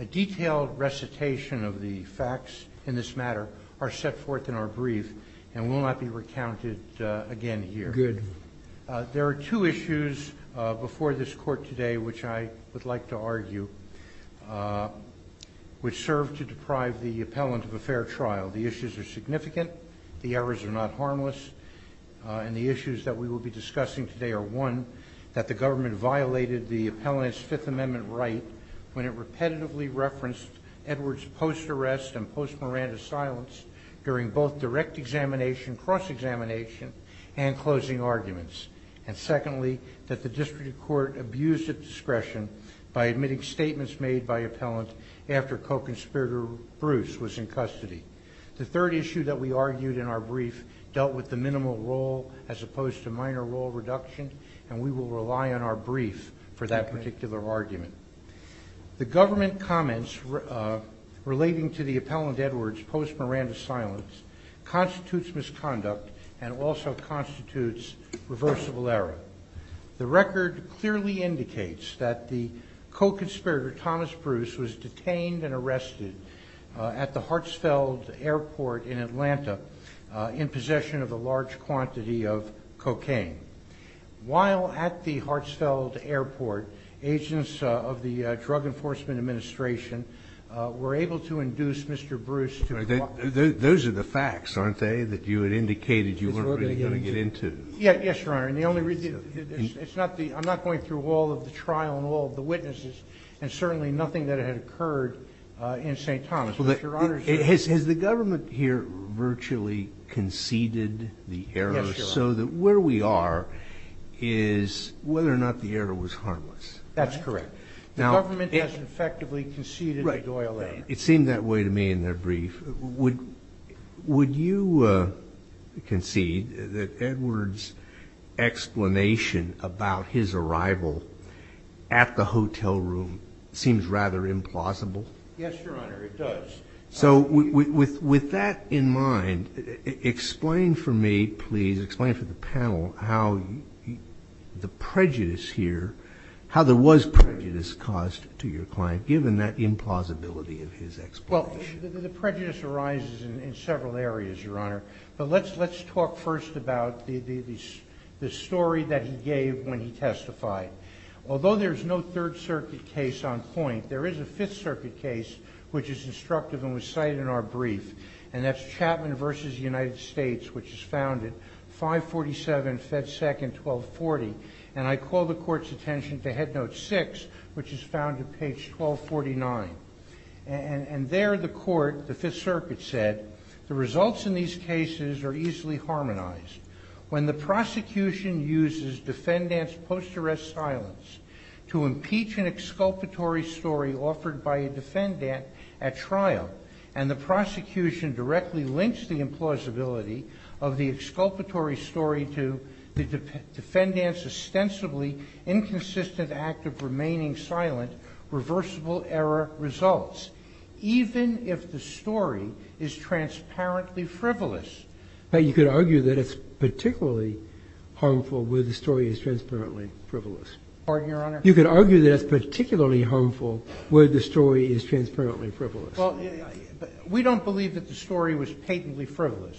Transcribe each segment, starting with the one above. A detailed recitation of the facts in this matter are set forth in our brief and will not be recounted again here. There are two issues before this court today, which I would like to argue, which serve to deprive the appellant of a fair trial. The issues are significant, the errors are not harmless, and the issues that we will be discussing today are one, that the government violated the appellant's Fifth Amendment right when it repetitively referenced Edwards' post-arrest and post-Miranda silence during both direct examination, cross-examination, and closing arguments, and secondly, that the district court abused its discretion by admitting statements made by appellant after co-conspirator Bruce was in custody. The third issue that we argued in our brief dealt with the minimal role as opposed to minor role reduction, and we will rely on our brief for that particular argument. The government comments relating to the appellant Edwards' post-Miranda silence constitutes misconduct and also constitutes reversible error. The record clearly indicates that the co-conspirator Thomas Bruce was detained and arrested at the Hartsfeld Airport in Atlanta in possession of a large quantity of cocaine. While at the Hartsfeld Airport, agents of the Drug Enforcement Administration were able to induce Mr. Bruce to- Those are the facts, aren't they, that you had indicated you weren't really going to get into? Yes, Your Honor, and the only reason- I'm not going through all of the trial and all of the witnesses, and certainly nothing that had occurred in St. Thomas. Has the government here virtually conceded the error so that where we are is whether or not the error was harmless? That's correct. The government has effectively conceded the Doyle error. It seemed that way to me in their brief. Would you concede that Edwards' explanation about his arrival at the hotel room seems rather implausible? Yes, Your Honor, it does. So with that in mind, explain for me, please, explain for the panel how the prejudice here, how there was prejudice caused to your client given that implausibility of his explanation. Well, the prejudice arises in several areas, Your Honor, but let's talk first about the story that he gave when he testified. Although there's no Third Circuit case on point, there is a Fifth Circuit case which is instructive and was cited in our brief, and that's Chapman v. United States, which is found at 547 Fed. 2nd, 1240, and I call the Court's attention to Head Note 6, which is found at page 1249. And there the Court, the Fifth Circuit, said, The results in these cases are easily harmonized. When the prosecution uses defendant's post-arrest silence to impeach an exculpatory story offered by a defendant at trial, and the prosecution directly links the implausibility of the exculpatory story to the defendant's ostensibly inconsistent act of remaining silent, reversible error results, even if the story is transparently frivolous. But you could argue that it's particularly harmful where the story is transparently frivolous. Pardon, Your Honor? You could argue that it's particularly harmful where the story is transparently frivolous. Well, we don't believe that the story was patently frivolous.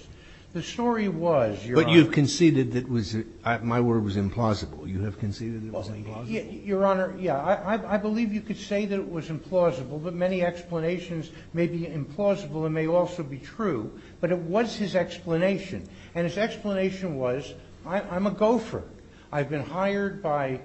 The story was, Your Honor. But you conceded that it was, my word was implausible. You have conceded it was implausible. Your Honor, yeah. I believe you could say that it was implausible, but many explanations may be implausible and may also be true. But it was his explanation. And his explanation was, I'm a gopher. I've been hired by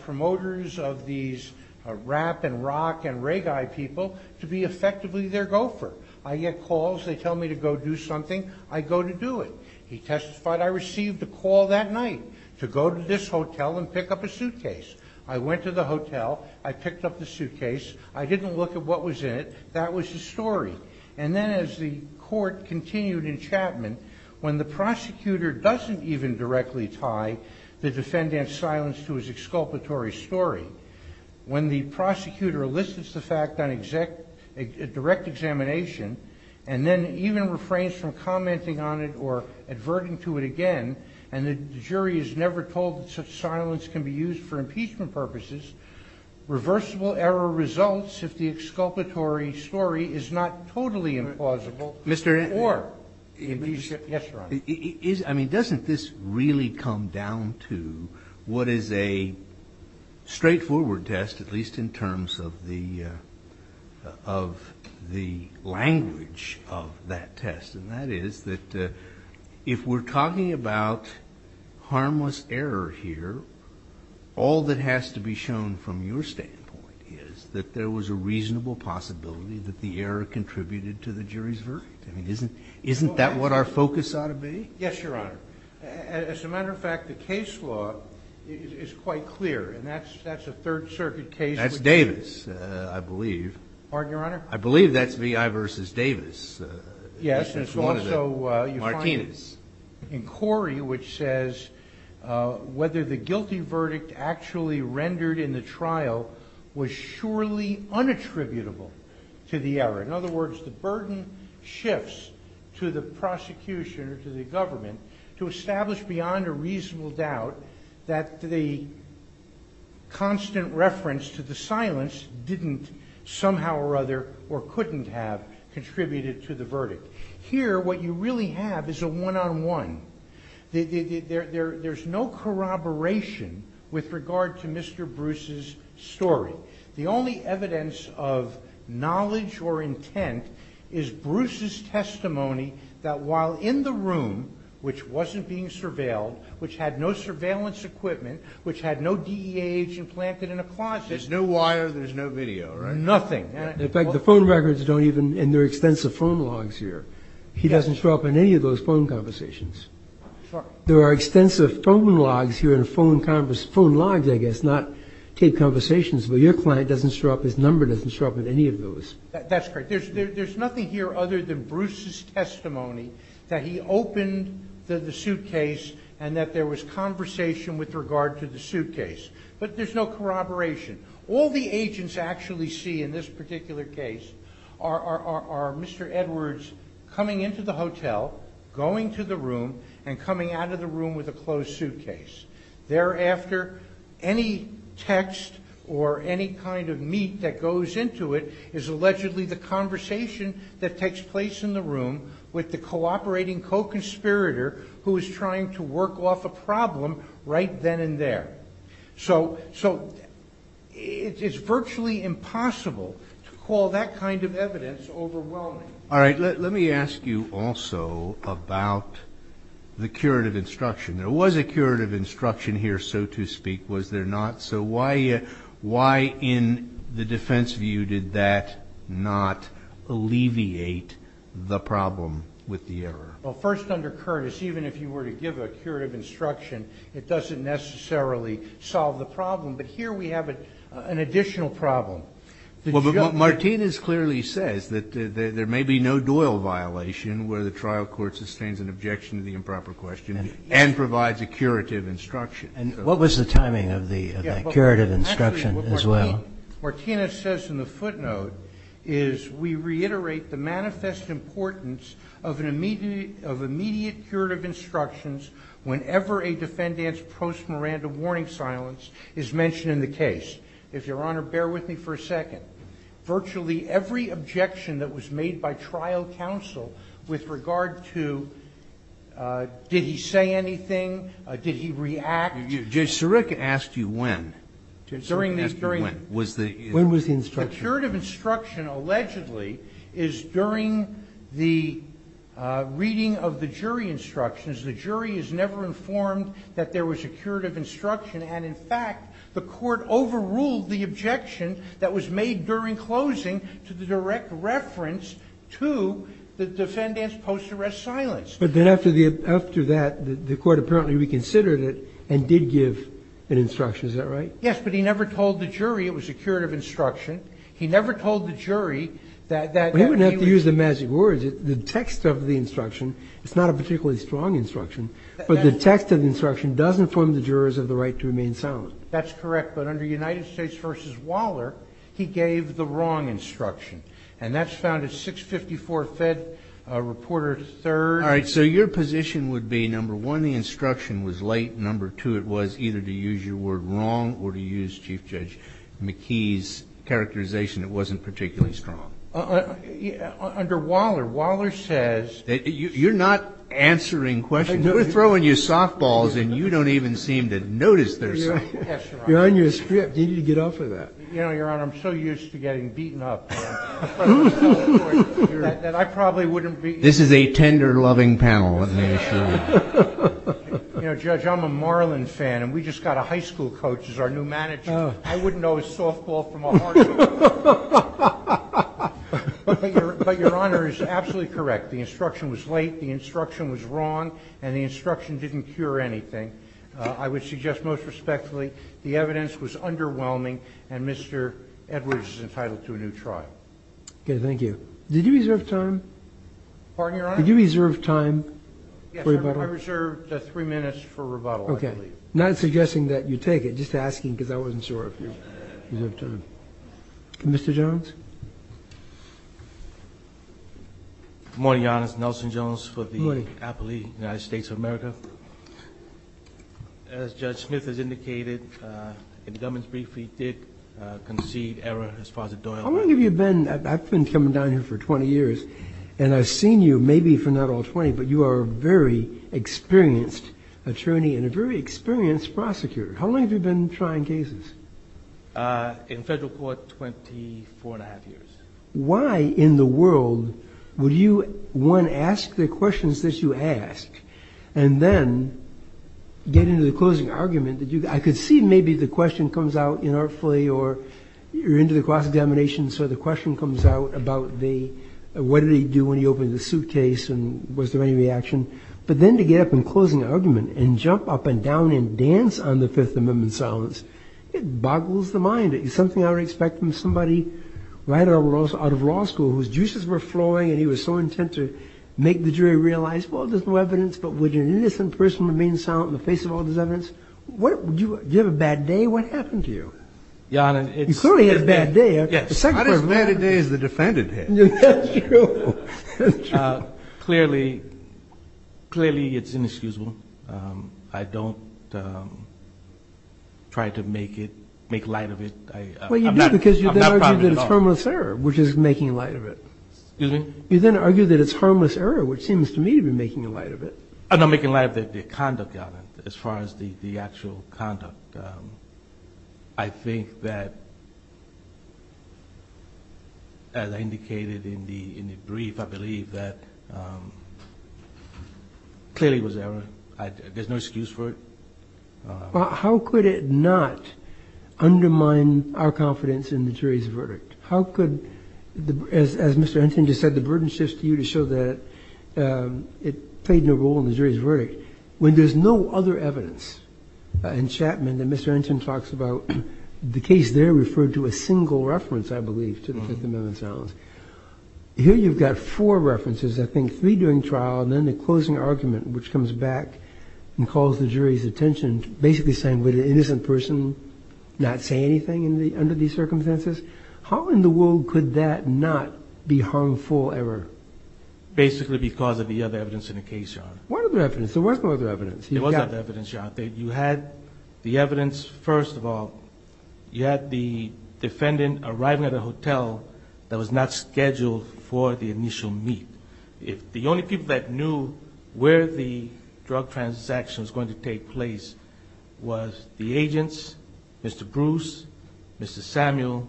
promoters of these rap and rock and reggae people to be effectively their gopher. I get calls. They tell me to go do something. I go to do it. He testified, I received a call that night to go to this hotel and pick up a suitcase. I went to the hotel. I picked up the suitcase. I didn't look at what was in it. That was the story. And then as the court continued in Chapman, when the prosecutor doesn't even directly tie the defendant's silence to his exculpatory story, when the prosecutor elicits the fact on direct examination and then even refrains from commenting on it or adverting to it again, and the jury is never told that such silence can be used for impeachment purposes, reversible error results if the exculpatory story is not totally implausible. Mr. Inman. Yes, Your Honor. I mean, doesn't this really come down to what is a straightforward test, at least in terms of the language of that test? And that is that if we're talking about harmless error here, all that has to be shown from your standpoint is that there was a reasonable possibility that the error contributed to the jury's verdict. I mean, isn't that what our focus ought to be? Yes, Your Honor. As a matter of fact, the case law is quite clear. And that's a Third Circuit case. That's Davis, I believe. Pardon, Your Honor? I believe that's VI v. Davis. Yes. And it's also Martinez. In Corey, which says, whether the guilty verdict actually rendered in the trial was surely unattributable to the error. In other words, the burden shifts to the prosecution or to the government to establish beyond a reasonable doubt that the constant reference to the silence Here, what you really have is a one-on-one. There's no corroboration with regard to Mr. Bruce's story. The only evidence of knowledge or intent is Bruce's testimony that while in the room, which wasn't being surveilled, which had no surveillance equipment, which had no DEH implanted in a closet, There's no wire, there's no video, right? Nothing. In fact, the phone records don't even, and there are extensive phone logs here. He doesn't show up in any of those phone conversations. There are extensive phone logs here, phone logs, I guess, not taped conversations, but your client doesn't show up, his number doesn't show up in any of those. That's correct. There's nothing here other than Bruce's testimony that he opened the suitcase and that there was conversation with regard to the suitcase. But there's no corroboration. All the agents actually see in this particular case are Mr. Edwards coming into the hotel, going to the room, and coming out of the room with a closed suitcase. Thereafter, any text or any kind of meat that goes into it is allegedly the conversation that takes place in the room with the cooperating co-conspirator who is trying to work off a problem right then and there. So it's virtually impossible to call that kind of evidence overwhelming. All right, let me ask you also about the curative instruction. There was a curative instruction here, so to speak, was there not? So why in the defense view did that not alleviate the problem with the error? Well, first, under Curtis, even if you were to give a curative instruction, it doesn't necessarily solve the problem. But here we have an additional problem. Well, but Martinez clearly says that there may be no Doyle violation where the trial court sustains an objection to the improper question and provides a curative instruction. What was the timing of the curative instruction as well? Martinez says in the footnote is we reiterate the manifest importance of immediate curative instructions whenever a defendant's post-morandum warning silence is mentioned in the case. If Your Honor, bear with me for a second. Virtually every objection that was made by trial counsel with regard to did he say anything? Did he react? Sirick asked you when. Sirick asked you when. When was the instruction? The curative instruction, allegedly, is during the reading of the jury instructions. The jury is never informed that there was a curative instruction and, in fact, the court overruled the objection that was made during closing to the direct reference to the defendant's post-arrest silence. But then after that, the court apparently reconsidered it and did give an instruction. Is that right? Yes, but he never told the jury it was a curative instruction. He never told the jury He wouldn't have to use the magic words. The text of the instruction is not a particularly strong instruction but the text of the instruction does inform the jurors of the right to remain silent. That's correct, but under United States v. Waller he gave the wrong instruction. And that's found in 654 Fed Reporter 3rd. All right, so your position would be, number one, the instruction was late. Number two, it was either to use your word wrong or to use Chief Judge McKee's characterization it wasn't particularly strong. Under Waller, Waller says You're not answering questions. We're throwing you softballs and you don't even seem to notice they're softballs. You're on your script. You need to get off of that. Your Honor, I'm so used to getting beaten up in front of the court that I probably wouldn't be This is a tender-loving panel, let me assure you. Judge, I'm a Marlin fan and we just got a high school coach as our new manager. I wouldn't know a softball from a hardball. But your Honor is absolutely correct. The instruction was late. The instruction was wrong and the instruction didn't cure anything. I would suggest most respectfully the evidence was underwhelming and Mr. Edwards is entitled to a new trial. Okay, thank you. Did you reserve time? Did you reserve time for rebuttal? Yes, I reserved three minutes for rebuttal, I believe. Not suggesting that you take it, just asking because I wasn't sure if you reserved time. Mr. Jones? Good morning, Your Honor. It's Nelson Jones for the Appellee United States of America. As Judge Smith has indicated in the government's brief, we did concede error as far as Doyle. How long have you been, I've been coming down here for 20 years and I've seen you, maybe for not all 20, but you are a very experienced attorney and a very experienced prosecutor. How long have you been trying cases? In federal court, 24 and a half years. Why in the world would you one, ask the questions that you ask and then get into the closing argument, I could see maybe the question comes out inartfully or you're into the cross-examination so the question comes out about the what did he do when he opened the suitcase and was there any reaction, but then to get up in closing argument and jump up and down and dance on the Fifth Amendment silence, it boggles the mind. It's something I would expect from somebody right out of law school whose juices were flowing and he was so intent to make the jury realize well, there's no evidence, but would an innocent person remain silent in the face of all this evidence? Do you have a bad day? What happened to you? You clearly had a bad day. I had as bad a day as the defendant had. That's true. Clearly it's inexcusable. I don't try to make it make light of it. Well you do because you then argue that it's harmless error which is making light of it. You then argue that it's harmless error which seems to me to be making light of it. I'm not making light of the conduct of it as far as the actual conduct. I think that as I indicated in the brief, I believe that clearly it was error. There's no excuse for it. How could it not undermine our confidence in the jury's verdict? As Mr. Anton just said, the burden shifts to you to show that it played no role in the jury's verdict when there's no other evidence in Chapman that Mr. Anton talks about. The case there referred to a single reference I believe to the Fifth Amendment silence. Here you've got four references I think three during trial and then the closing argument which comes back and calls the jury's attention basically saying would an innocent person not say anything under these circumstances? How in the world could that not be harmful error? Basically because of the other evidence in the case, Your Honor. What other evidence? There was no other evidence. There was no other evidence, Your Honor. You had the evidence, first of all you had the defendant arriving at a hotel that was not scheduled for the initial meet. The only people that knew where the drug transaction was going to take place was the agents, Mr. Bruce, Mr. Samuel,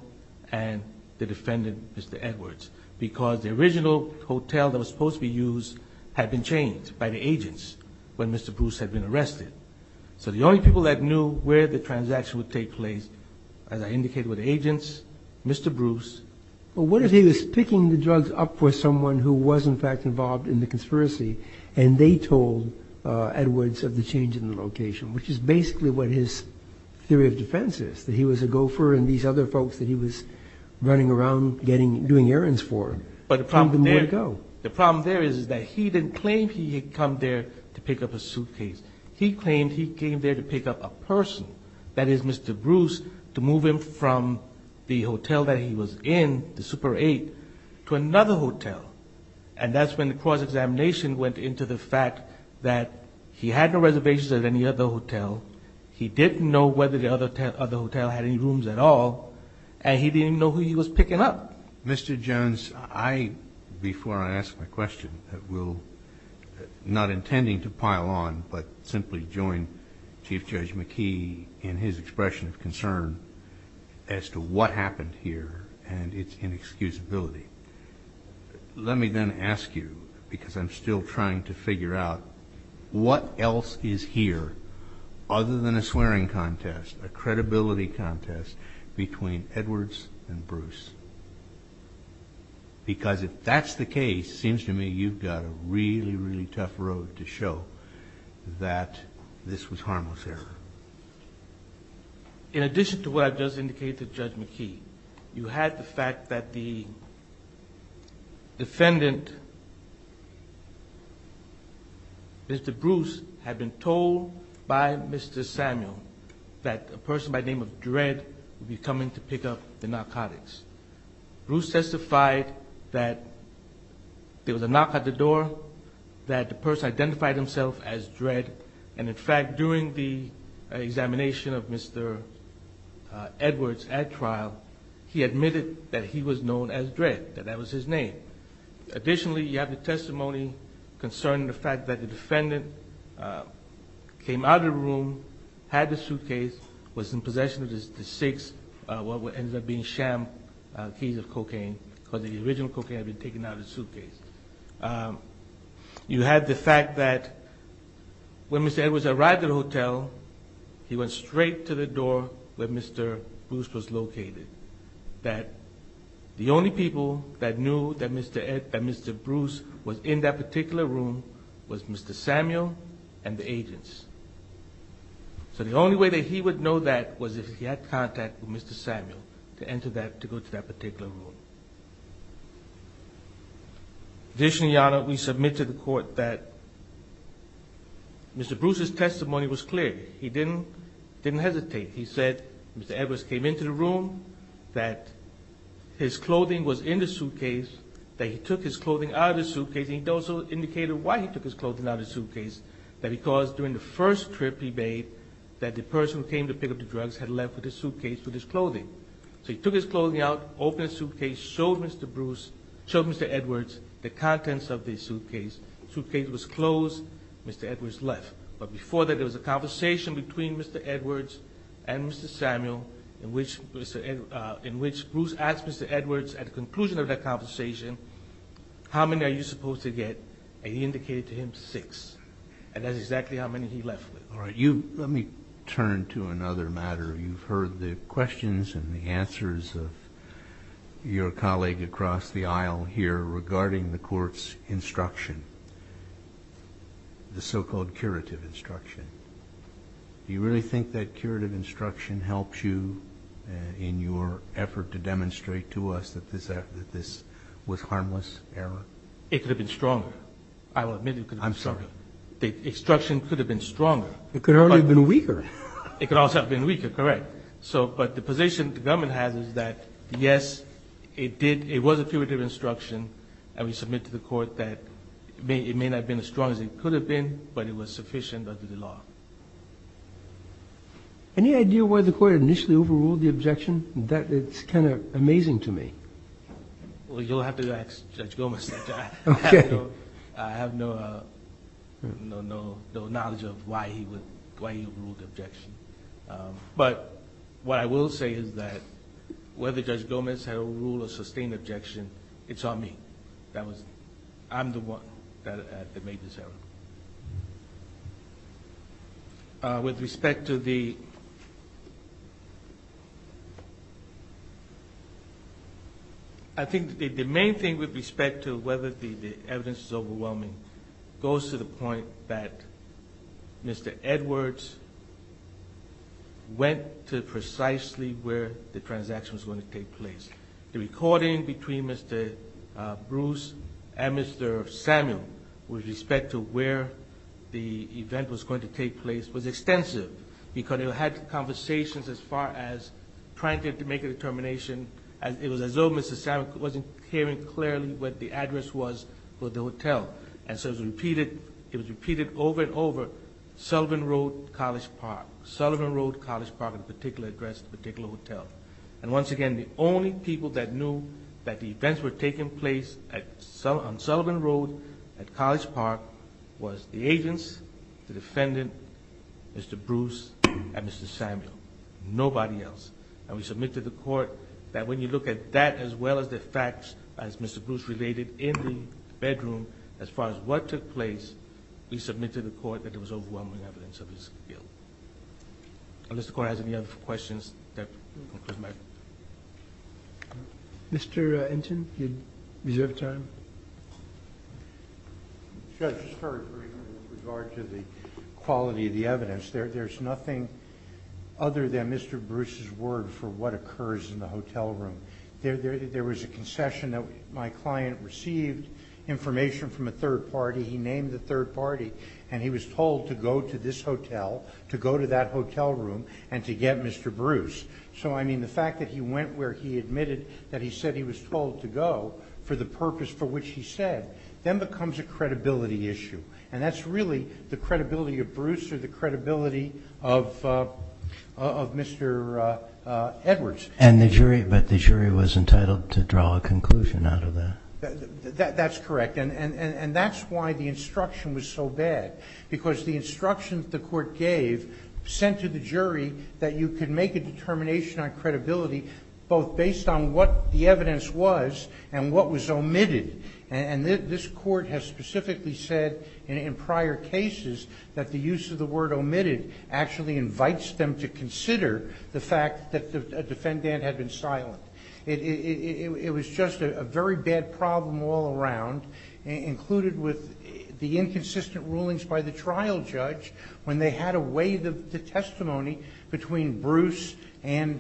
and the defendant, Mr. Edwards, because the original hotel that was supposed to be used had been changed by the agents when Mr. Bruce had been arrested. So the only people that knew where the transaction would take place as I indicated were the agents, Mr. Bruce. But what if he was picking the drugs up for someone who was in fact involved in the conspiracy and they told Edwards of the change in the location which is basically what his theory of defense is, that he was a gopher and these other folks that he was running around doing errands for told him where to go. The problem there is that he didn't claim he had come there to pick up a suitcase. He claimed he came there to pick up a person, that is Mr. Bruce, to move him from the hotel that he was in, the Super 8, to another hotel. And that's when the cross-examination went into the fact that he had no reservations at any other hotel, he didn't know whether the other hotel had any rooms at all, and he didn't know who he was picking up. Mr. Jones, I, before I ask my question, will, not intending to pile on, but simply join Chief Judge McKee in his expression of concern as to what happened here and its inexcusability. Let me then ask you, because I'm still trying to figure out, what else is here other than a swearing contest, a credibility contest between Edwards and Bruce? Because if that's the case, it seems to me you've got a really, really tough road to show that this was harmless here. In addition to what I've just indicated to Judge McKee, you had the fact that the defendant, Mr. Bruce, had been told by Mr. Samuel that a person by name of Dredd would be coming to pick up the narcotics. Bruce testified that there was a knock at the door that the person identified himself as Dredd, and in fact during the examination of Mr. Edwards at trial, he admitted that he was known as Dredd, that that was his name. Additionally, you have the testimony concerning the fact that the defendant came out of the room, had the suitcase, was in possession of the six, what ended up being sham, keys of taken out of the suitcase. You had the fact that when Mr. Edwards arrived at the hotel, he went straight to the door where Mr. Bruce was located, that the only people that knew that Mr. Bruce was in that particular room was Mr. Samuel and the agents. So the only way that he would know that was if he had contact with Mr. Samuel to enter that, to go to that particular room. Additionally, Your Honor, we submit to the court that Mr. Bruce's testimony was clear. He didn't hesitate. He said Mr. Edwards came into the room, that his clothing was in the suitcase, that he took his clothing out of the suitcase, and he also indicated why he took his clothing out of the suitcase, that because during the first trip he made that the person who came to pick up the drugs had left the suitcase with his clothing. So he took his clothing out, opened the suitcase, showed Mr. Bruce, showed Mr. Edwards the contents of the suitcase. The suitcase was closed. Mr. Edwards left. But before that, there was a conversation between Mr. Edwards and Mr. Samuel in which Bruce asked Mr. Edwards at the conclusion of that conversation, how many are you supposed to get? And he indicated to him six. And that's exactly how many he left with. Let me turn to another matter. You've heard the questions and the answers of your colleague across the aisle here regarding the Court's instruction. The so-called curative instruction. Do you really think that curative instruction helps you in your effort to demonstrate to us that this was harmless error? It could have been stronger. I will admit it could have been stronger. The instruction could have been stronger. It could have been weaker. It could also have been weaker, correct. But the position the government has is that, yes, it was a curative instruction and we submit to the Court that it may not have been as strong as it could have been but it was sufficient under the law. Any idea why the Court initially overruled the objection? It's kind of amazing to me. You'll have to ask Judge Gomez. I have no knowledge of why he overruled the objection. What I will say is that whether Judge Gomez had overruled or sustained objection, it's on me. I'm the one that made this error. With respect to the I think the main thing with respect to whether the evidence is overwhelming goes to the point that Mr. Edwards went to precisely where the transaction was going to take place. The recording between Mr. Bruce and Mr. Samuel with respect to where the event was going to take place was extensive because it had conversations as far as trying to make a determination as though Mr. Samuel wasn't hearing clearly what the address was for the hotel. It was repeated over and over, Sullivan Road, College Park. Sullivan Road, College Park, the particular address, the particular hotel. Once again, the only people that knew that the events were taking place on Sullivan Road at College Park was the agents, the defendant, Mr. Bruce and Mr. Samuel. Court that when you look at that as well as the facts as Mr. Bruce related in the bedroom as far as what took place, we submit to the Court that there was overwhelming evidence of his guilt. Unless the Court has any other questions, that concludes my report. Mr. Enten, you reserve time. I just heard, for example, with regard to the quality of the evidence, there's nothing other than Mr. Bruce's word for what occurs in the hotel room. There was a concession that my client received information from a third party, he named the third party, and he was told to go to this hotel, to go to that hotel room, and to get Mr. Bruce. So, I mean, the fact that he went where he admitted that he said he was told to go for the purpose for which he said, then becomes a credibility issue. And that's really the credibility of Bruce or the credibility of Mr. Edwards. And the jury, but the jury was entitled to draw a conclusion out of that. That's correct. And that's why the instruction was so bad. Because the instructions the Court gave sent to the jury that you could make a determination on credibility, both based on what the evidence was and what was omitted. And this Court has specifically said in prior cases that the use of the word omitted actually invites them to consider the fact that the defendant had been silent. It was just a very bad problem all around, included with the inconsistent rulings by the trial judge, when they had away the testimony between Bruce and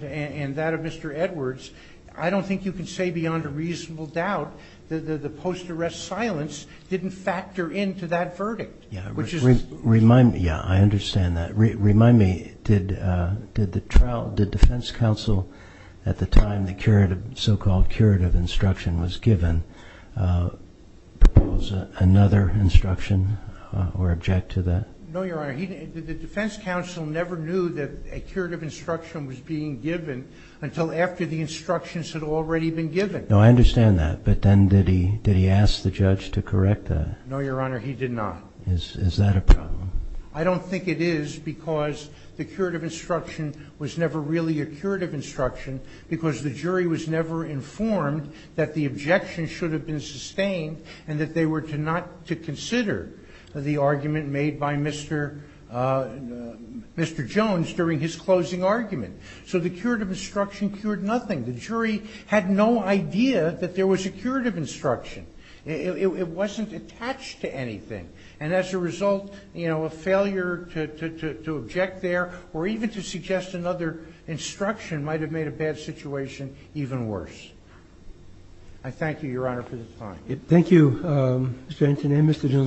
that of Mr. Edwards. I don't think you can say beyond a reasonable doubt that the post-arrest silence didn't factor into that verdict. Which is... Yeah, I understand that. Remind me, did the defense counsel at the time the so-called curative instruction was given propose another instruction or object to that? No, Your Honor. The defense counsel never knew that a curative instruction was being given until after the instructions had already been given. No, I understand that. But then did he ask the judge to correct that? No, Your Honor, he did not. Is that a problem? I don't think it is because the curative instruction was never really a curative instruction because the jury was never informed that the objection should have been sustained and that they were to not to consider the argument made by Mr. Mr. Jones during his closing argument. So the curative instruction cured nothing. The jury had no idea that there was a curative instruction. It wasn't attached to anything. And as a result, you know, a failure to object there or even to suggest another instruction might have made a bad situation even worse. I thank you, Your Honor, for the time. Thank you, Mr. Antonin, Mr. Jones.